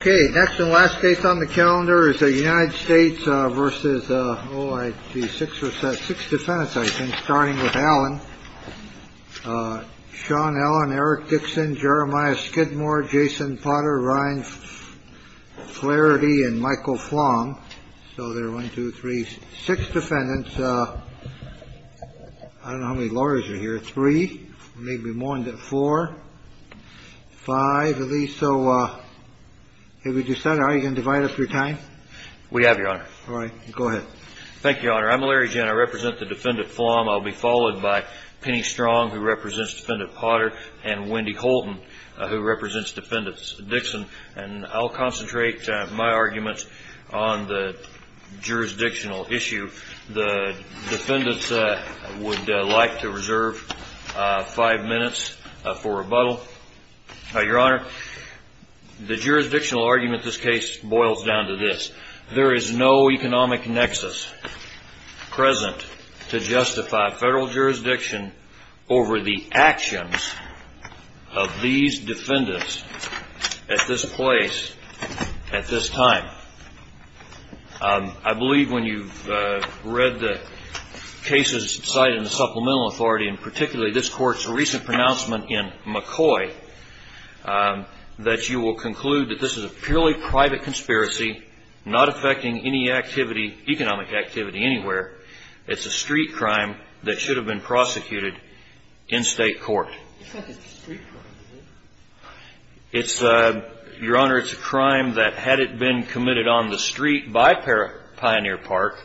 OK, next and last case on the calendar is the United States versus the six or six defendants. I think starting with Alan, Sean Allen, Eric Dixon, Jeremiah Skidmore, Jason Potter, Ryan Flaherty and Michael Flong. So they're one, two, three, six defendants. I don't know how many lawyers are here. Three, maybe more than four, five of these. So if you decide you can divide up your time. We have your honor. All right. Go ahead. Thank you, Your Honor. I'm Larry Jenner. I represent the defendant. I'll be followed by Penny Strong, who represents defendant Potter and Wendy Colton, who represents defendants Dixon. And I'll concentrate my arguments on the jurisdictional issue. The defendants would like to reserve five minutes for rebuttal. Your Honor, the jurisdictional argument this case boils down to this. There is no economic nexus present to justify federal jurisdiction over the actions of these defendants at this place at this time. I believe when you've read the cases cited in the Supplemental Authority, and particularly this court's recent pronouncement in McCoy, that you will conclude that this is a purely private conspiracy, not affecting any activity, economic activity anywhere. It's a street crime that should have been prosecuted in state court. It's not a street crime, is it? Your Honor, it's a crime that had it been committed on the street by Pioneer Park,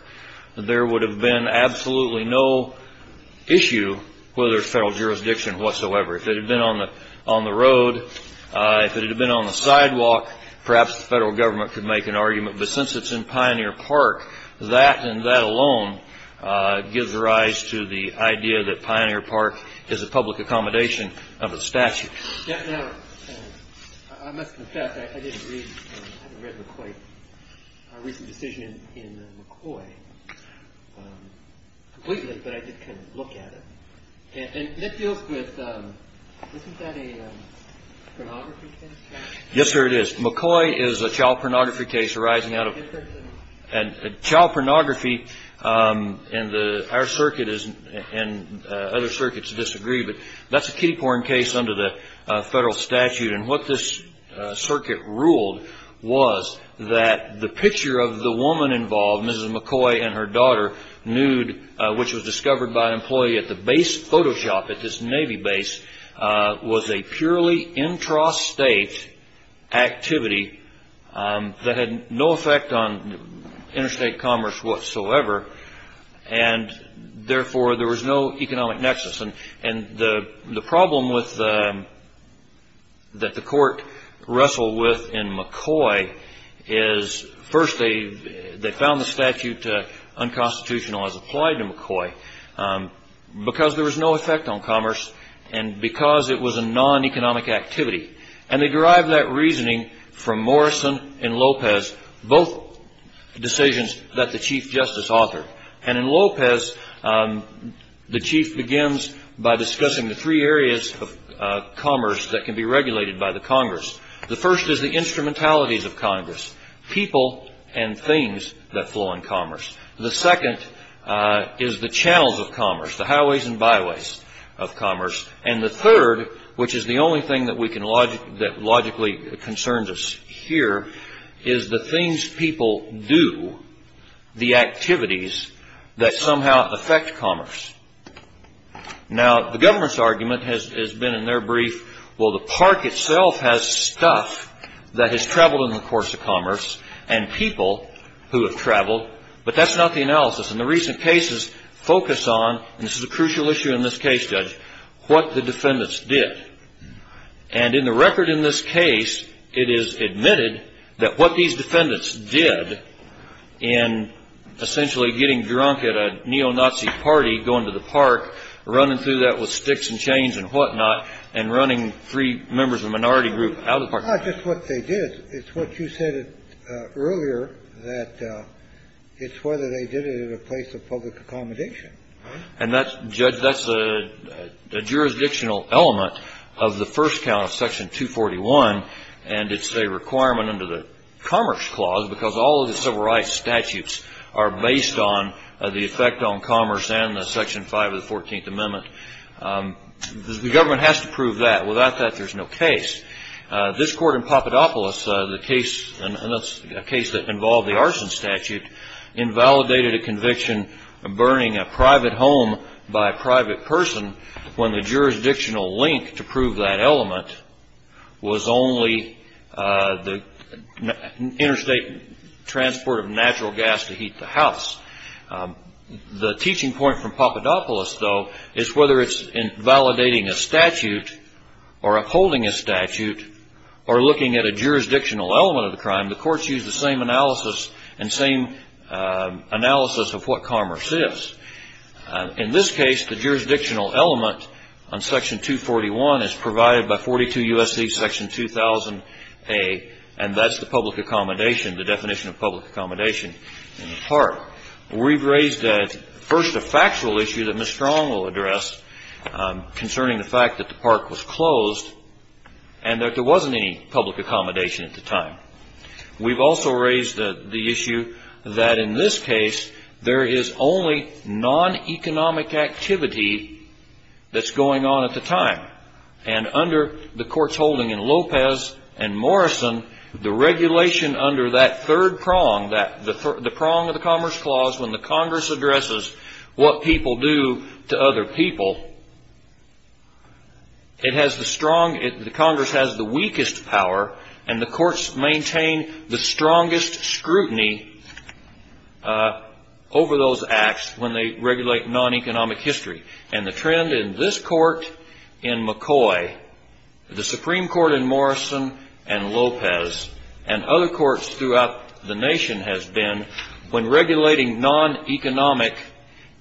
there would have been absolutely no issue whether it's federal jurisdiction whatsoever. If it had been on the road, if it had been on the sidewalk, perhaps the federal government could make an argument. But since it's in Pioneer Park, that and that alone gives rise to the idea that Pioneer Park is a public accommodation of a statute. Now, I must confess, I didn't read McCoy's recent decision in McCoy completely, but I did kind of look at it. And it deals with, isn't that a pornography case? Yes, sir, it is. McCoy is a child pornography case arising out of child pornography. And our circuit and other circuits disagree, but that's a kiddie porn case under the federal statute. And what this circuit ruled was that the picture of the woman involved, Mrs. McCoy and her daughter, nude, which was discovered by an employee at the base, Photoshop at this Navy base, was a purely intrastate activity that had no effect on interstate commerce whatsoever. And therefore, there was no economic nexus. And the problem that the court wrestled with in McCoy is, first, they found the statute unconstitutional as applied to McCoy, because there was no effect on commerce and because it was a non-economic activity. And they derived that reasoning from Morrison and Lopez, both decisions that the Chief Justice authored. And in Lopez, the Chief begins by discussing the three areas of commerce that can be regulated by the Congress. The first is the instrumentalities of Congress, people and things that flow in commerce. The second is the channels of commerce, the highways and byways of commerce. And the third, which is the only thing that logically concerns us here, is the things people do, the activities that somehow affect commerce. Now, the government's argument has been in their brief, well, the park itself has stuff that has traveled in the course of commerce and people who have traveled, but that's not the analysis. And the recent cases focus on, and this is a crucial issue in this case, Judge, what the defendants did. And in the record in this case, it is admitted that what these defendants did in essentially getting drunk at a neo-Nazi party, going to the park, running through that with sticks and chains and whatnot, and running three members of a minority group out of the park. It's not just what they did. It's what you said earlier, that it's whether they did it at a place of public accommodation. And that's, Judge, that's a jurisdictional element of the first count of Section 241, and it's a requirement under the Commerce Clause because all of the civil rights statutes are based on the effect on commerce and the Section 5 of the 14th Amendment. The government has to prove that. Without that, there's no case. This court in Papadopoulos, a case that involved the arson statute, invalidated a conviction of burning a private home by a private person when the jurisdictional link to prove that element was only the interstate transport of natural gas to heat the house. The teaching point from Papadopoulos, though, is whether it's in validating a statute or upholding a statute or looking at a jurisdictional element of the crime, the courts use the same analysis and same analysis of what commerce is. In this case, the jurisdictional element on Section 241 is provided by 42 U.S.C. Section 2000A, and that's the public accommodation, the definition of public accommodation in the park. We've raised first a factual issue that Ms. Strong will address concerning the fact that the park was closed and that there wasn't any public accommodation at the time. We've also raised the issue that in this case, there is only non-economic activity that's going on at the time, and under the courts holding in Lopez and Morrison, the regulation under that third prong, the prong of the Commerce Clause when the Congress addresses what people do to other people, the Congress has the weakest power and the courts maintain the strongest scrutiny over those acts when they regulate non-economic history. And the trend in this Court in McCoy, the Supreme Court in Morrison and Lopez, and other courts throughout the nation has been when regulating non-economic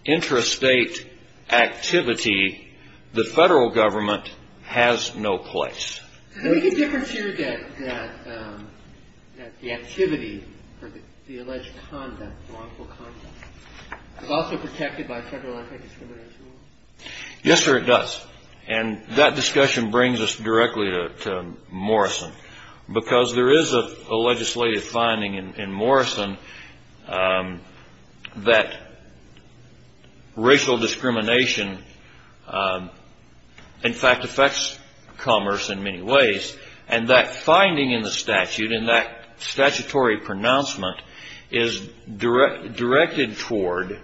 intrastate activity, the Federal Government has no place. Is there any difference here that the activity or the alleged conduct, wrongful conduct, is also protected by Federal Anti-Discrimination Law? Yes, sir, it does. And that discussion brings us directly to Morrison because there is a legislative finding in Morrison that racial discrimination in fact affects commerce in many ways, and that finding in the statute and that statutory pronouncement is directed toward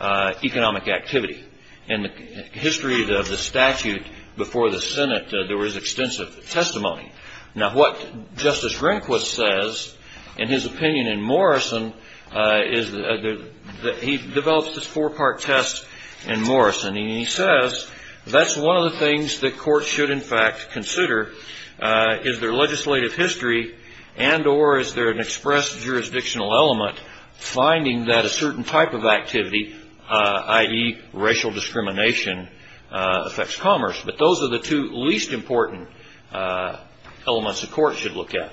economic activity. In the history of the statute before the Senate, there was extensive testimony. Now, what Justice Rehnquist says in his opinion in Morrison is that he develops this four-part test in Morrison, and he says that's one of the things that courts should in fact consider is their legislative history and or is there an expressed jurisdictional element finding that a certain type of activity, i.e. racial discrimination, affects commerce. But those are the two least important elements the court should look at.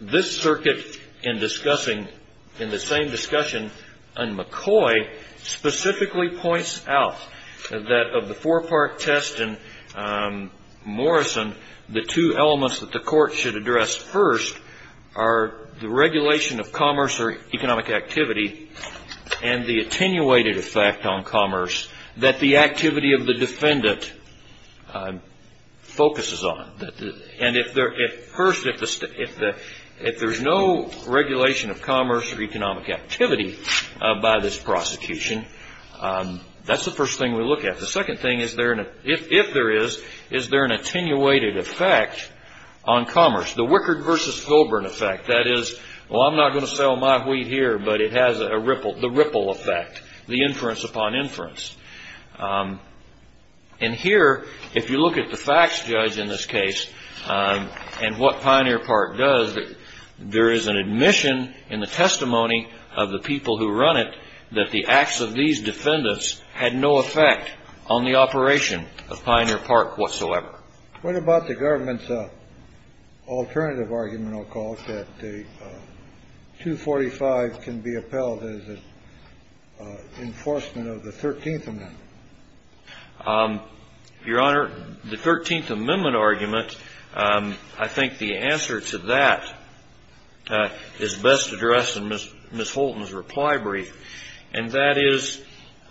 This circuit in discussing, in the same discussion, McCoy specifically points out that of the four-part test in Morrison, the two elements that the court should address first are the regulation of commerce or economic activity and the attenuated effect on commerce that the activity of the defendant focuses on. And first, if there's no regulation of commerce or economic activity by this prosecution, that's the first thing we look at. The second thing, if there is, is there an attenuated effect on commerce? The Wickard v. Filburn effect, that is, well, I'm not going to sell my wheat here, but it has the ripple effect, the inference upon inference. And here, if you look at the facts judge in this case and what Pioneer Park does, there is an admission in the testimony of the people who run it that the acts of these defendants had no effect on the operation of Pioneer Park whatsoever. What about the government's alternative argument, I'll call it, that the 245 can be upheld as an enforcement of the 13th Amendment? Your Honor, the 13th Amendment argument, I think the answer to that is best addressed in Ms. Holton's reply brief. And that is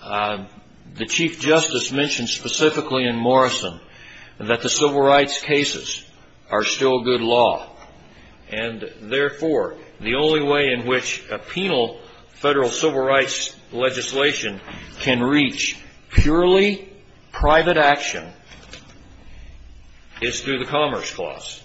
the Chief Justice mentioned specifically in Morrison that the civil rights cases are still good law. And therefore, the only way in which a penal federal civil rights legislation can reach purely private action is through the Commerce Clause.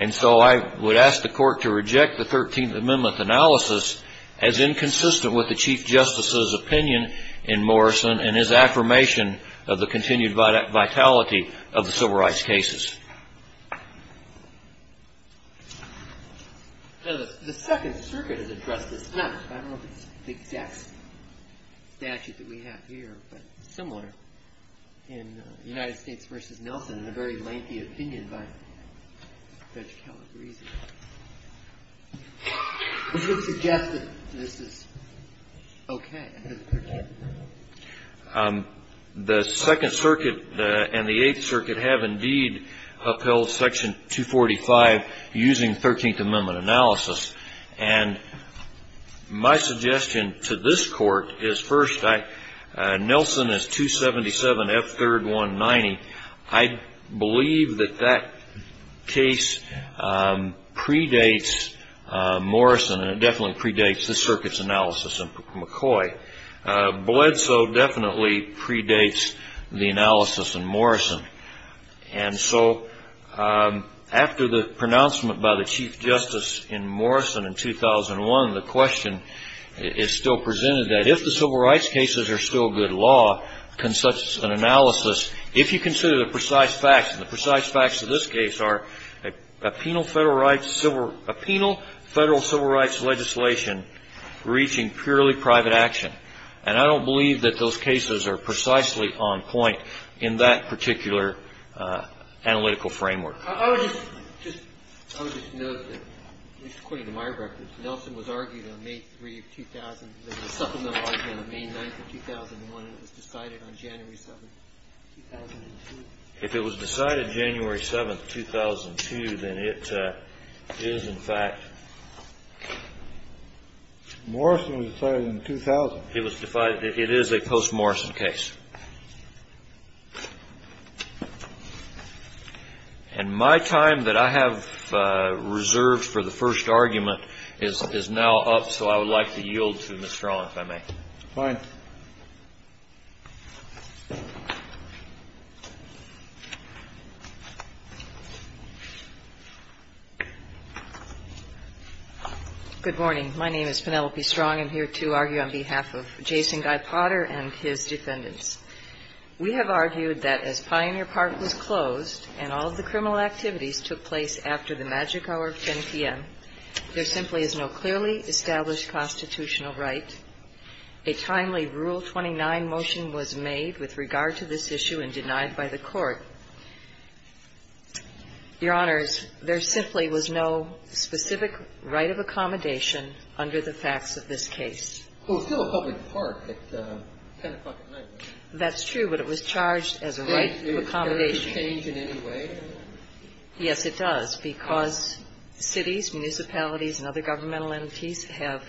And so I would ask the Court to reject the 13th Amendment analysis as inconsistent with the Chief Justice's opinion in Morrison and his affirmation of the continued vitality of the civil rights cases. The Second Circuit has addressed this. I don't know if it's the exact statute that we have here, but it's similar in United States v. Nelson in a very lengthy opinion by Judge Calabresi. Would you suggest that this is okay? The Second Circuit and the Eighth Circuit have indeed upheld Section 245 using 13th Amendment analysis. And my suggestion to this Court is, first, Nelson is 277 F. 3rd. 190. I believe that that case predates Morrison, and it definitely predates the Circuit's analysis in McCoy. Bledsoe definitely predates the analysis in Morrison. And so after the pronouncement by the Chief Justice in Morrison in 2001, the question is still presented that if the civil rights cases are still good law, can such an analysis, if you consider the precise facts, and the precise facts of this case are a penal federal civil rights legislation reaching purely private action. And I don't believe that those cases are precisely on point in that particular analytical framework. I would just note that, at least according to my records, Nelson was argued on May 3, 2000. There was a supplemental argument on May 9, 2001, and it was decided on January 7, 2002. If it was decided January 7, 2002, then it is, in fact. Morrison was decided in 2000. It is a post-Morrison case. And my time that I have reserved for the first argument is now up, so I would like to yield to Ms. Strong, if I may. Fine. Good morning. My name is Penelope Strong. I'm here to argue on behalf of Jason Guy Potter and his defendants. We have argued that as Pioneer Park was closed and all of the criminal activities took place after the magic hour of 10 p.m., there simply is no clearly established constitutional right. A timely Rule 29 motion was made with regard to this issue and denied by the Court. Your Honors, there simply was no specific right of accommodation under the facts of this case. Well, it's still a public park at 10 o'clock at night. That's true, but it was charged as a right of accommodation. Does it change in any way? Yes, it does, because cities, municipalities, and other governmental entities have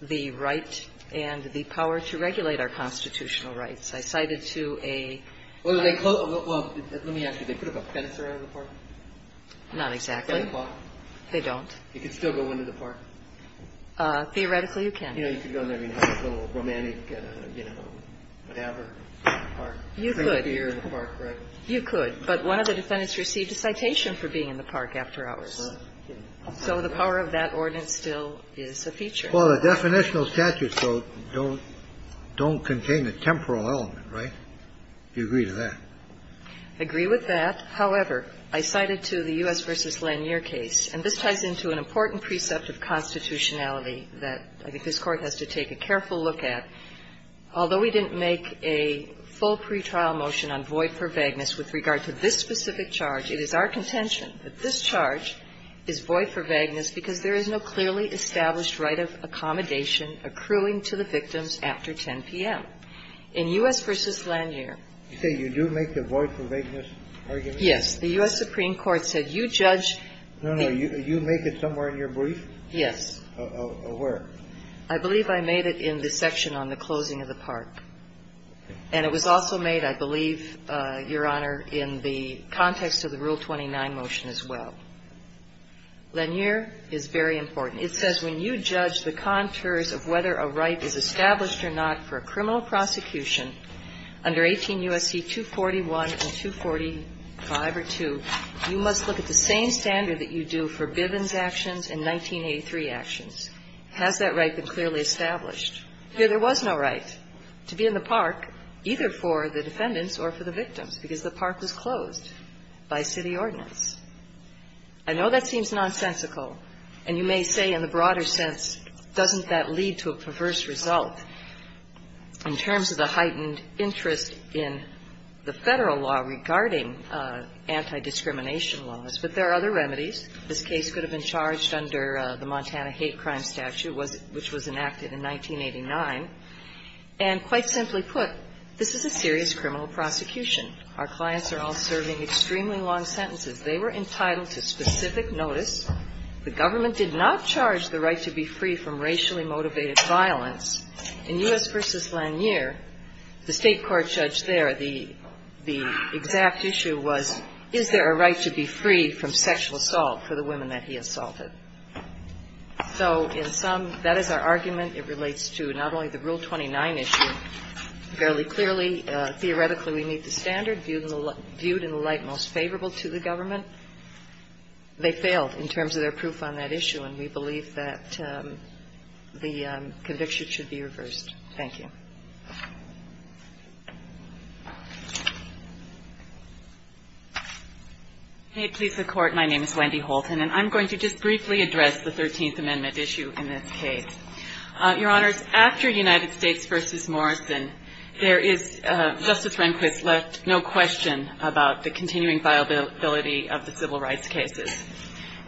the right and the power to regulate our constitutional rights. I cited to a... Well, let me ask you. Do they put up a fence around the park? Not exactly. At 10 o'clock? They don't. You could still go into the park. Theoretically, you can. You know, you could go in there and have a little romantic, you know, whatever, park. You could. You could, but one of the defendants received a citation for being in the park after hours. So the power of that ordinance still is a feature. Well, the definitional statutes, though, don't contain a temporal element, right? Do you agree with that? I agree with that. However, I cited to the U.S. v. Lanier case, and this ties into an important precept of constitutionality that I think this Court has to take a careful look at. Although we didn't make a full pretrial motion on void for vagueness with regard to this specific charge, it is our contention that this charge is void for vagueness because there is no clearly established right of accommodation accruing to the victims after 10 p.m. In U.S. v. Lanier. You say you do make the void for vagueness argument? Yes. The U.S. Supreme Court said you judge. No, no. You make it somewhere in your brief? Yes. Where? I believe I made it in the section on the closing of the park. And it was also made, I believe, Your Honor, in the context of the Rule 29 motion as well. Lanier is very important. It says when you judge the contours of whether a right is established or not for a criminal prosecution under 18 U.S.C. 241 and 245 or 2, you must look at the same standard that you do for Bivens actions and 1983 actions. Has that right been clearly established? Here there was no right to be in the park, either for the defendants or for the victims, because the park was closed by city ordinance. I know that seems nonsensical. And you may say in the broader sense, doesn't that lead to a perverse result in terms of the heightened interest in the Federal law regarding anti-discrimination laws? But there are other remedies. This case could have been charged under the Montana Hate Crime Statute, which was enacted in 1989. And quite simply put, this is a serious criminal prosecution. Our clients are all serving extremely long sentences. They were entitled to specific notice. The government did not charge the right to be free from racially motivated violence. In U.S. v. Lanier, the State court judge there, the exact issue was, is there a right to be free from sexual assault for the women that he assaulted? So in sum, that is our argument. It relates to not only the Rule 29 issue. Fairly clearly, theoretically, we meet the standard viewed in the light most favorable to the government. They failed in terms of their proof on that issue, and we believe that the conviction should be reversed. Thank you. Wendy Holton. May it please the Court, my name is Wendy Holton, and I'm going to just briefly address the 13th Amendment issue in this case. Your Honors, after United States v. Morrison, there is, Justice Rehnquist left no question about the continuing viability of the civil rights cases.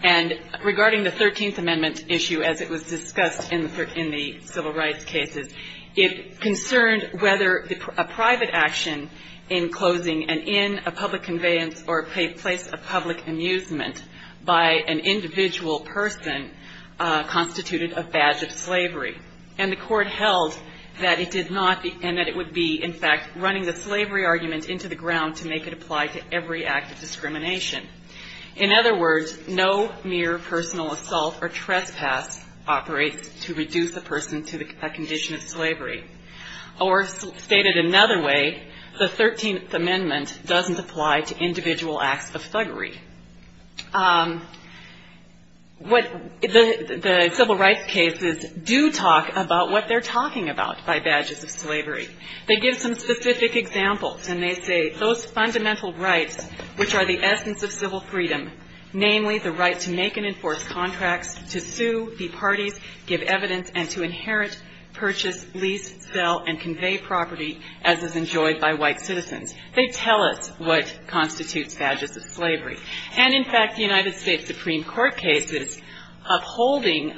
And regarding the 13th Amendment issue as it was discussed in the civil rights cases, it concerned whether a private action in closing an inn, a public conveyance, or a place of public amusement by an individual person constituted a badge of slavery. And the Court held that it did not, and that it would be, in fact, running the slavery argument into the ground to make it apply to every act of discrimination. In other words, no mere personal assault or trespass operates to reduce a person to a condition of slavery. Or stated another way, the 13th Amendment doesn't apply to individual acts of thuggery. The civil rights cases do talk about what they're talking about by badges of slavery. They give some specific examples, and they say those fundamental rights, which are the essence of civil freedom, namely the right to make and enforce contracts, to sue, be parties, give evidence, and to inherit, purchase, lease, sell, and convey property as is enjoyed by white citizens. They tell us what constitutes badges of slavery. And, in fact, the United States Supreme Court cases upholding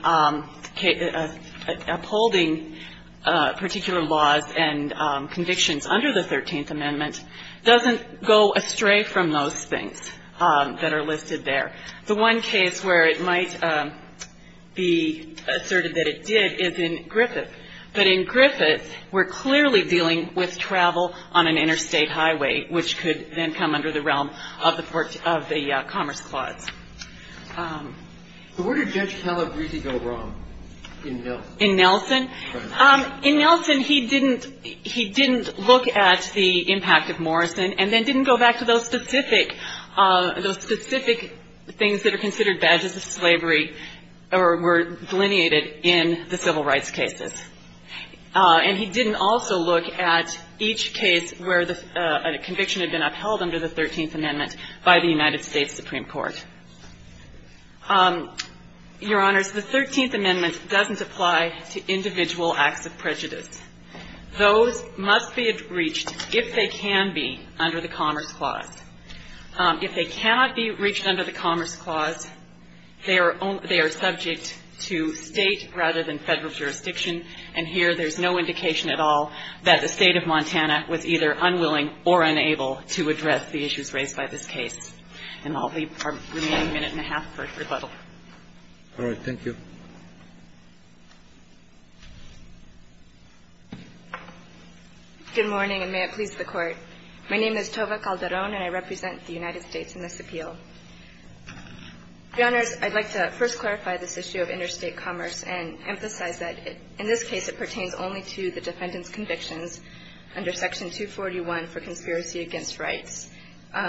particular laws and convictions under the 13th Amendment doesn't go astray from those things that are listed there. The one case where it might be asserted that it did is in Griffith. But in Griffith, we're clearly dealing with travel on an interstate highway, which could then come under the realm of the Commerce Clause. So where did Judge Calabresi go wrong in Nelson? In Nelson? In Nelson, he didn't look at the impact of Morrison and then didn't go back to those specific things that are considered badges of slavery or were delineated in the civil rights cases. And he didn't also look at each case where a conviction had been upheld under the 13th Amendment by the United States Supreme Court. Your Honors, the 13th Amendment doesn't apply to individual acts of prejudice. Those must be reached if they can be under the Commerce Clause. If they cannot be reached under the Commerce Clause, they are subject to State rather than Federal jurisdiction, and here there's no indication at all that the State of Montana was either unwilling or unable to address the issues raised by this case. And I'll leave our remaining minute and a half for rebuttal. All right. Thank you. Good morning, and may it please the Court. My name is Tova Calderon, and I represent the United States in this appeal. Your Honors, I'd like to first clarify this issue of interstate commerce and emphasize that in this case it pertains only to the defendant's convictions under Section 241 for conspiracy against rights.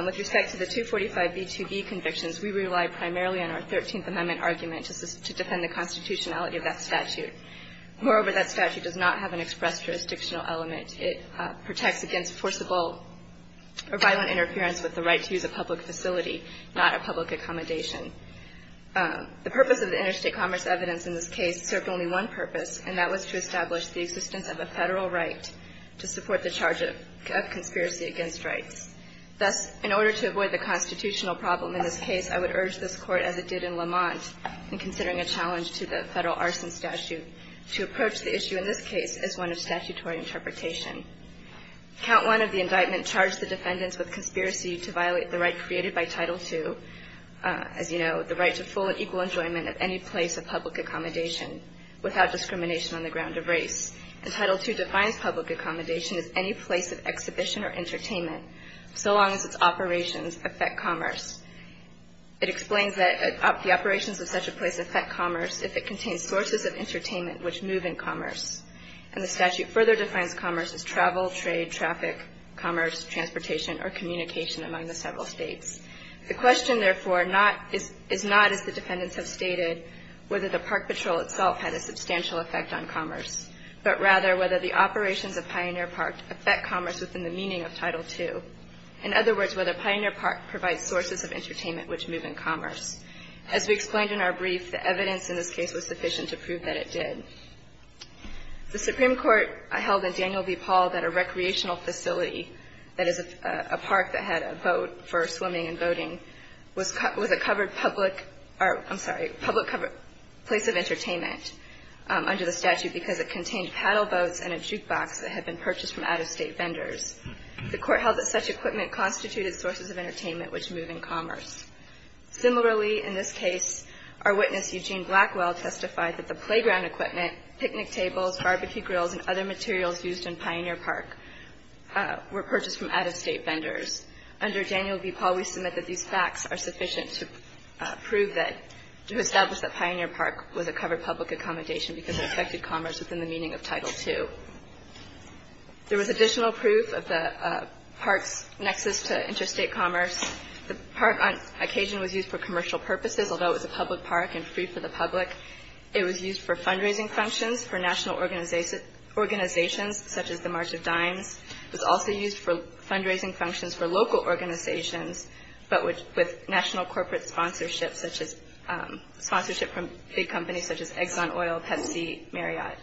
With respect to the 245b2b convictions, we rely primarily on our 13th Amendment argument to defend the constitutionality of that statute. Moreover, that statute does not have an express jurisdictional element. It protects against forcible or violent interference with the right to use a public facility, not a public accommodation. The purpose of the interstate commerce evidence in this case served only one purpose, and that was to establish the existence of a Federal right to support the charge of conspiracy against rights. Thus, in order to avoid the constitutional problem in this case, I would urge this Court, as it did in Lamont, in considering a challenge to the Federal arson statute, to approach the issue in this case as one of statutory interpretation. Count 1 of the indictment charged the defendants with conspiracy to violate the right created by Title II, as you know, the right to full and equal enjoyment of any place of public accommodation without discrimination on the ground of race. And Title II defines public accommodation as any place of exhibition or entertainment so long as its operations affect commerce. It explains that the operations of such a place affect commerce if it contains sources of entertainment which move in commerce. And the statute further defines commerce as travel, trade, traffic, commerce, transportation, or communication among the several states. The question, therefore, is not, as the defendants have stated, whether the park patrol itself had a substantial effect on commerce, but rather whether the operations of Pioneer Park affect commerce within the meaning of Title II. In other words, whether Pioneer Park provides sources of entertainment which move in commerce. As we explained in our brief, the evidence in this case was sufficient to prove that it did. The Supreme Court held in Daniel v. Paul that a recreational facility, that is a park that had a boat for swimming and boating, was a covered public, I'm sorry, public covered place of entertainment under the statute because it contained paddle boats and a jukebox that had been purchased from out-of-state vendors. The court held that such equipment constituted sources of entertainment which move in commerce. Similarly, in this case, our witness, Eugene Blackwell, testified that the playground equipment, picnic tables, barbecue grills, and other materials used in Pioneer Park were purchased from out-of-state vendors. Under Daniel v. Paul, we submit that these facts are sufficient to prove that, to establish that Pioneer Park was a covered public accommodation because it affected commerce within the meaning of Title II. There was additional proof of the park's nexus to interstate commerce. The park on occasion was used for commercial purposes, although it was a public park and free for the public. It was used for fundraising functions for national organizations, such as the March of Dimes. It was also used for fundraising functions for local organizations, but with national corporate sponsorship from big companies such as Exxon Oil, Pepsi, Marriott.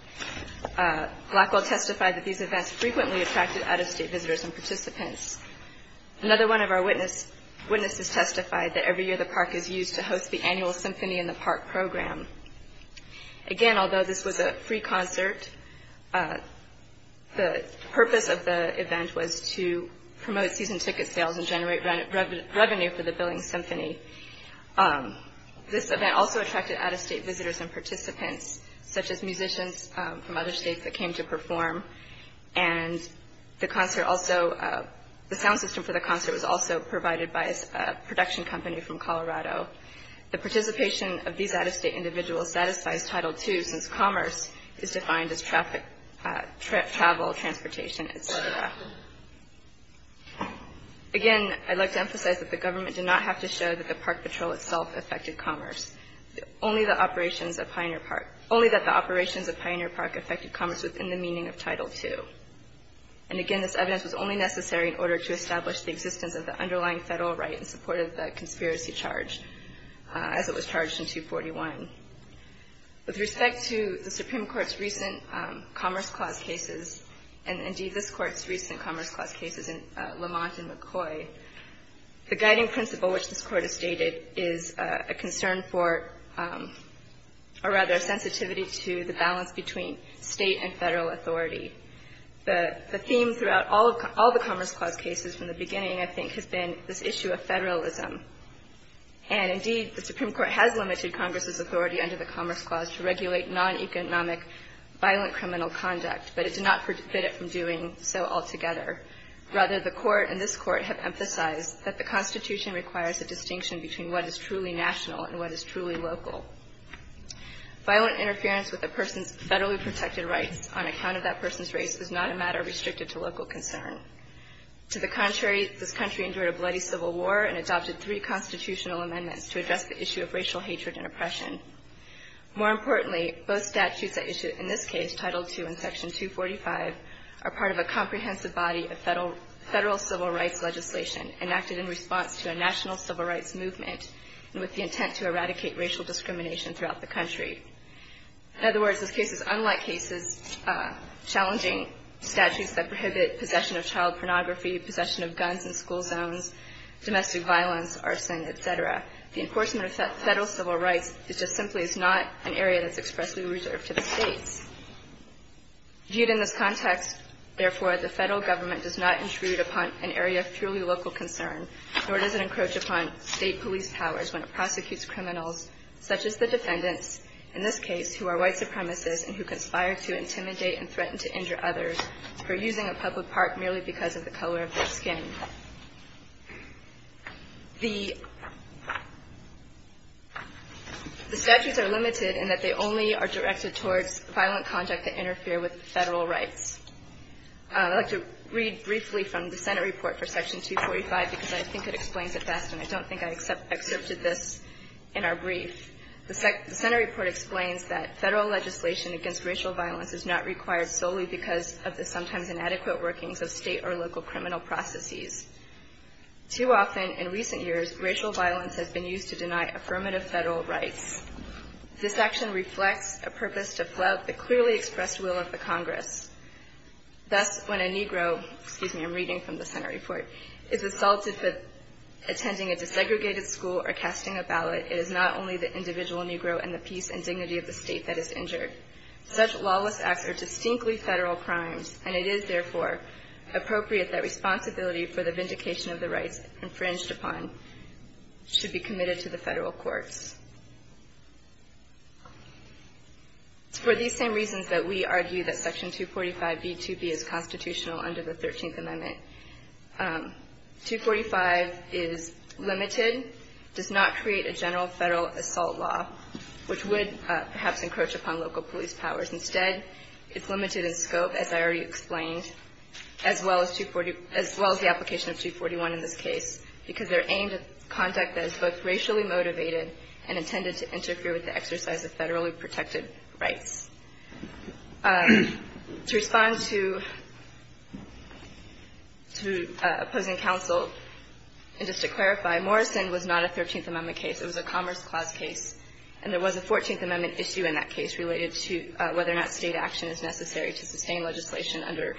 Blackwell testified that these events frequently attracted out-of-state visitors and participants. Another one of our witnesses testified that every year the park is used to host the annual Symphony in the Park program. Again, although this was a free concert, the purpose of the event was to promote season ticket sales and generate revenue for the building symphony. This event also attracted out-of-state visitors and participants, such as musicians from other states that came to perform. The sound system for the concert was also provided by a production company from Colorado. The participation of these out-of-state individuals satisfies Title II since commerce is defined as travel, transportation, etc. Again, I'd like to emphasize that the government did not have to show that the park patrol itself affected commerce. Only that the operations of Pioneer Park affected commerce within the meaning of Title II. And again, this evidence was only necessary in order to establish the existence of the underlying Federal right in support of the conspiracy charge, as it was charged in 241. With respect to the Supreme Court's recent Commerce Clause cases, and indeed this Court's recent Commerce Clause cases in Lamont and McCoy, the guiding principle which this Court has stated is a concern for, or rather a sensitivity to the balance between State and Federal authority. The theme throughout all the Commerce Clause cases from the beginning, I think, has been this issue of Federalism. And indeed, the Supreme Court has limited Congress's authority under the Commerce Clause to regulate non-economic violent criminal conduct, but it did not forbid it from doing so altogether. Rather, the Court and this Court have emphasized that the Constitution requires a distinction between what is truly national and what is truly local. Violent interference with a person's federally protected rights on account of that person's race is not a matter restricted to local concern. To the contrary, this country endured a bloody civil war and adopted three constitutional amendments to address the issue of racial hatred and oppression. More importantly, both statutes at issue in this case, Title II and Section 245, are part of a comprehensive body of Federal civil rights legislation enacted in response to a national civil rights movement with the intent to eradicate racial discrimination throughout the country. In other words, this case is unlike cases challenging statutes that prohibit possession of child pornography, possession of guns in school zones, domestic violence, arson, et cetera. The enforcement of Federal civil rights just simply is not an area that's expressly reserved to the States. Viewed in this context, therefore, the Federal Government does not intrude upon an area of truly local concern, nor does it encroach upon State police powers when it prosecutes criminals such as the defendants, in this case, who are white supremacists and who conspire to intimidate and threaten to injure others for using a public park merely because of the color of their skin. The statutes are limited in that they only are directed towards violent conduct that interfere with Federal rights. I'd like to read briefly from the Senate report for Section 245 because I think it explains it best, and I don't think I excerpted this in our brief. The Senate report explains that Federal legislation against racial violence is not required solely because of the sometimes inadequate workings of State or local criminal processes. Too often in recent years, racial violence has been used to deny affirmative Federal rights. This action reflects a purpose to flout the clearly expressed will of the Congress. Thus, when a Negro, excuse me, I'm reading from the Senate report, is assaulted for attending a desegregated school or casting a ballot, it is not only the individual Negro and the peace and dignity of the State that is injured. Such lawless acts are distinctly Federal crimes, and it is, therefore, appropriate that responsibility for the vindication of the rights infringed upon should be committed to the Federal courts. It's for these same reasons that we argue that Section 245b2b is constitutional under the 13th Amendment. 245 is limited, does not create a general Federal assault law, which would perhaps encroach upon local police powers. Instead, it's limited in scope, as I already explained, as well as the application of 241 in this case, because they're aimed at conduct that is both racially motivated and intended to interfere with the exercise of Federally protected rights. To respond to opposing counsel, and just to clarify, Morrison was not a 13th Amendment case. It was a Commerce Clause case, and there was a 14th Amendment issue in that case related to whether or not State action is necessary to sustain legislation under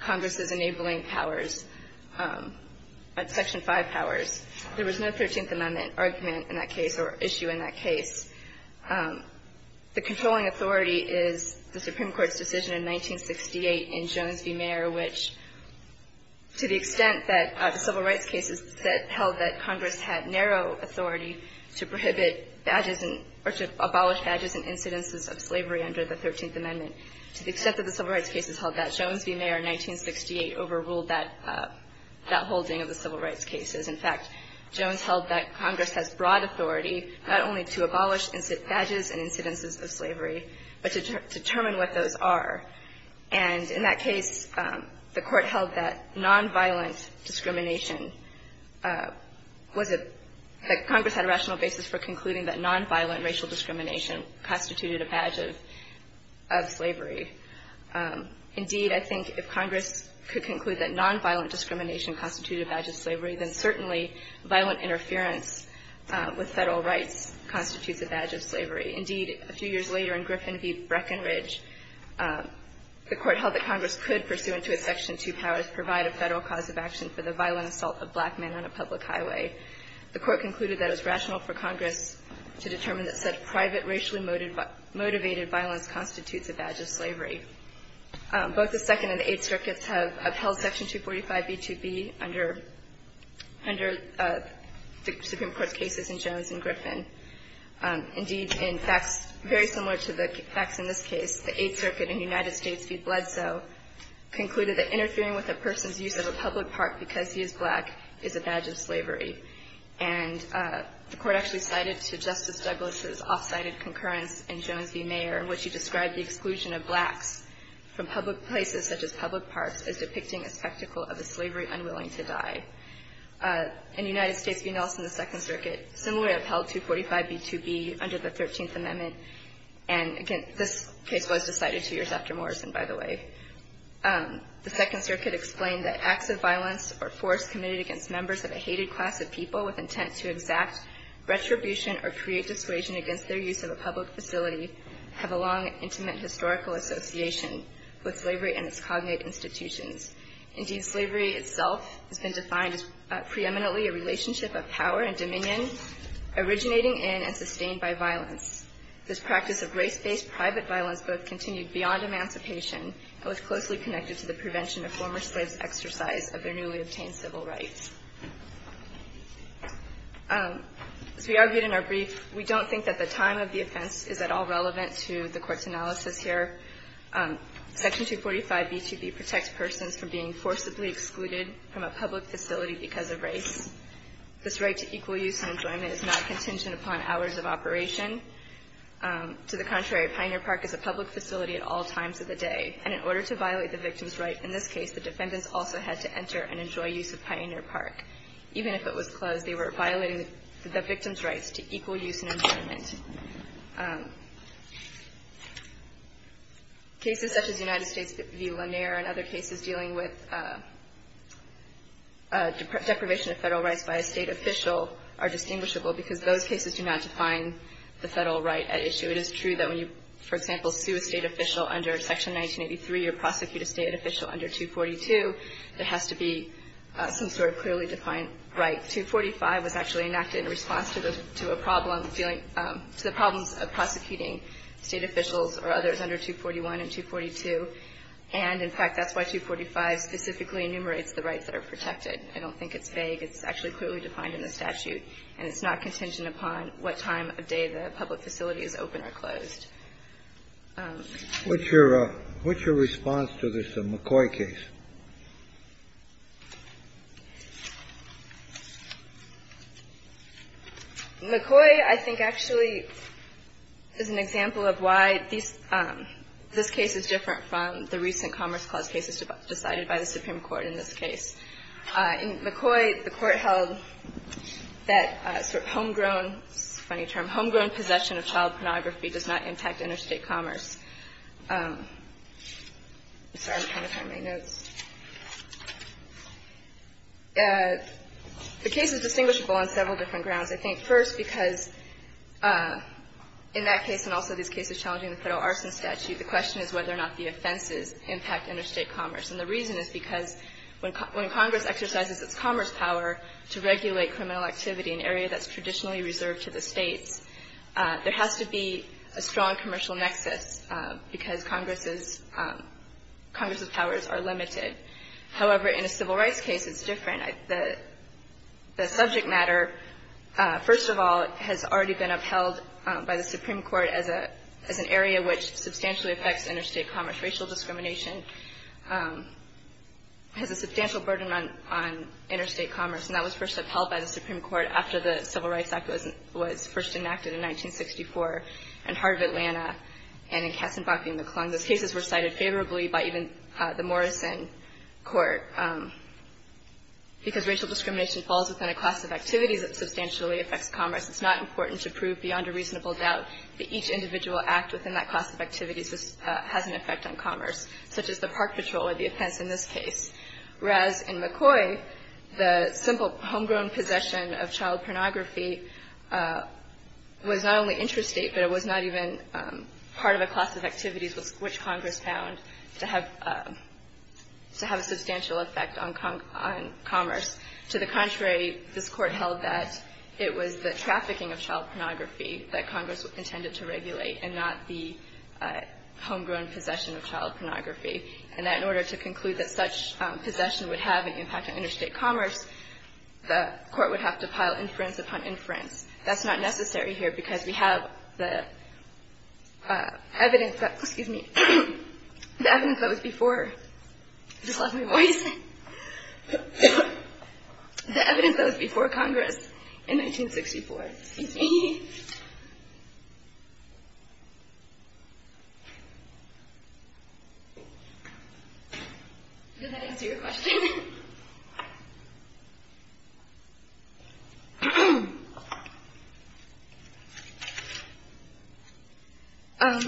Congress's enabling powers, Section 5 powers. There was no 13th Amendment argument in that case or issue in that case. The controlling authority is the Supreme Court's decision in 1968 in Jones v. Mayer, which, to the extent that the civil rights cases held that Congress had narrow authority to prohibit badges or to abolish badges in incidences of slavery under the 13th Amendment, to the extent that the civil rights cases held that, Jones v. Mayer in 1968 overruled that holding of the civil rights cases. In fact, Jones held that Congress has broad authority not only to abolish badges in incidences of slavery, but to determine what those are. And in that case, the Court held that nonviolent discrimination was a – that Congress had a rational basis for concluding that nonviolent racial discrimination constituted a badge of slavery. Indeed, I think if Congress could conclude that nonviolent discrimination constituted a badge of slavery, then certainly violent interference with Federal rights constitutes a badge of slavery. Indeed, a few years later in Griffin v. Breckenridge, the Court held that Congress could, pursuant to its Section 2 powers, provide a Federal cause of action for the violent assault of black men on a public highway. The Court concluded that it was rational for Congress to determine that such private racially motivated violence constitutes a badge of slavery. Both the Second and the Eighth Circuits have upheld Section 245b-2b under the Supreme Court's cases in Jones and Griffin. Indeed, in facts very similar to the facts in this case, the Eighth Circuit in the United States v. Bledsoe concluded that interfering with a person's use of a public park because he is black is a badge of slavery. And the Court actually cited to Justice Douglas' off-sided concurrence in Jones v. Mayer in which he described the exclusion of blacks from public places such as public parks as depicting a spectacle of a slavery unwilling to die. In the United States v. Nelson, the Second Circuit similarly upheld 245b-2b under the Thirteenth Amendment. And again, this case was decided two years after Morrison, by the way. The Second Circuit explained that acts of violence or force committed against members of a hated class of people with intent to exact retribution or create dissuasion against their use of a public facility have a long, intimate historical association with slavery and its cognate institutions. Indeed, slavery itself has been defined as preeminently a relationship of power and dominion originating in and sustained by violence. This practice of race-based private violence both continued beyond emancipation and was closely connected to the prevention of former slaves' exercise of their newly obtained civil rights. As we argued in our brief, we don't think that the time of the offense is at all relevant to the Court's analysis here. Section 245b-2b protects persons from being forcibly excluded from a public facility because of race. This right to equal use and enjoyment is not contingent upon hours of operation. To the contrary, a pioneer park is a public facility at all times of the day, and in order to violate the victim's right in this case, the defendants also had to enter and enjoy use of pioneer parks. Even if it was closed, they were violating the victim's rights to equal use and enjoyment. Cases such as United States v. Lanier and other cases dealing with deprivation of federal rights by a state official are distinguishable because those cases do not define the federal right at issue. It is true that when you, for example, sue a state official under Section 1983 or prosecute a state official under 242, there has to be some sort of clearly defined right. 245 was actually enacted in response to a problem, to the problems of prosecuting state officials or others under 241 and 242. And, in fact, that's why 245 specifically enumerates the rights that are protected. I don't think it's vague. It's actually clearly defined in the statute, and it's not contingent upon what time of day the public facility is open or closed. What's your response to this McCoy case? McCoy, I think, actually is an example of why this case is different from the recent Commerce Clause cases decided by the Supreme Court in this case. In McCoy, the Court held that sort of homegrown, funny term, homegrown possession of child pornography does not impact interstate commerce. Sorry, I'm trying to find my notes. The case is distinguishable on several different grounds. I think, first, because in that case and also these cases challenging the federal arson statute, the question is whether or not the offenses impact interstate commerce. And the reason is because when Congress exercises its commerce power to regulate criminal activity in an area that's traditionally reserved to the states, there has to be a strong commercial nexus because Congress's powers are limited. However, in a civil rights case, it's different. The subject matter, first of all, has already been upheld by the Supreme Court as an area which substantially affects interstate commerce. Racial discrimination has a substantial burden on interstate commerce, and that was first upheld by the Supreme Court after the Civil Rights Act was first enacted in 1964 in Heart of Atlanta and in Katzenbach v. McClung. Those cases were cited favorably by even the Morrison Court. Because racial discrimination falls within a class of activities that substantially affects commerce, it's not important to prove beyond a reasonable doubt that each individual act within that class of activities has an effect on commerce, such as the park patrol or the offense in this case. Whereas in McCoy, the simple homegrown possession of child pornography was not only interstate, but it was not even part of a class of activities which Congress found to have a substantial effect on commerce. To the contrary, this Court held that it was the trafficking of child pornography that Congress intended to regulate and not the homegrown possession of child pornography. And that in order to conclude that such possession would have an impact on interstate commerce, the Court would have to pile inference upon inference. That's not necessary here because we have the evidence that was before Congress in 1964. Excuse me. Did that answer your question?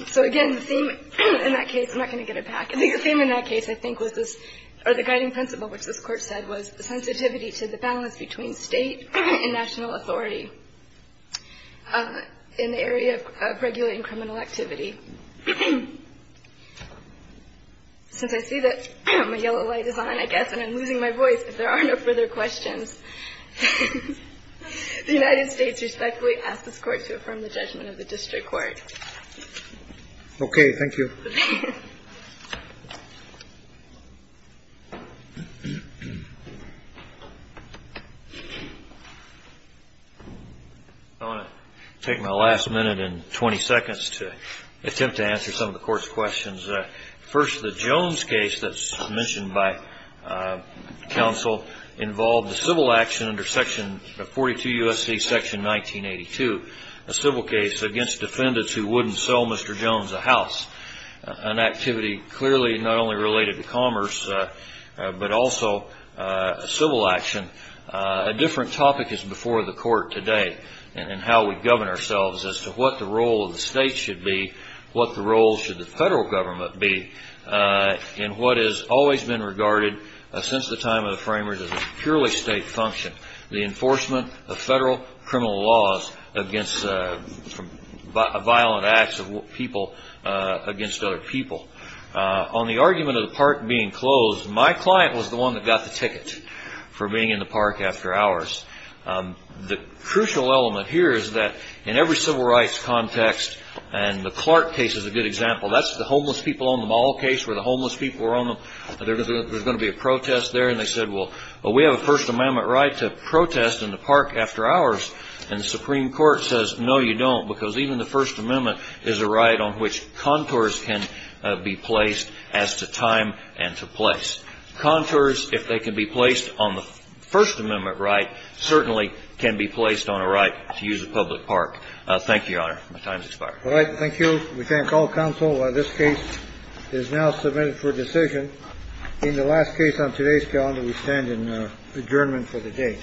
So again, the theme in that case, I'm not going to get it back. I think the theme in that case I think was this, or the guiding principle which this in the area of regulating criminal activity. Since I see that my yellow light is on, I guess, and I'm losing my voice, if there are no further questions, the United States respectfully asks this Court to affirm the judgment of the District Court. Okay. Thank you. I want to take my last minute and 20 seconds to attempt to answer some of the Court's questions. First, the Jones case that's mentioned by counsel involved a civil action under section 42 U.S.C. section 1982, a civil case against defendants who wouldn't sell Mr. Jones a house, an activity clearly not only related to commerce but also a civil action. A different topic is before the Court today in how we govern ourselves as to what the role of the state should be, what the role should the federal government be in what has always been regarded since the time of the framers as a purely state function. The enforcement of federal criminal laws against violent acts of people against other people. On the argument of the park being closed, my client was the one that got the ticket for being in the park after hours. The crucial element here is that in every civil rights context, and the Clark case is a good example, that's the homeless people on the mall case where the homeless people were on them, there was going to be a protest there and they said, well, we have a First Amendment protest in the park after hours. And the Supreme Court says, no, you don't, because even the First Amendment is a right on which contours can be placed as to time and to place. Contours, if they can be placed on the First Amendment right, certainly can be placed on a right to use a public park. Thank you, Your Honor. My time has expired. All right. Thank you. We thank all counsel. This case is now submitted for decision. In the last case on today's calendar, we stand in adjournment for the day.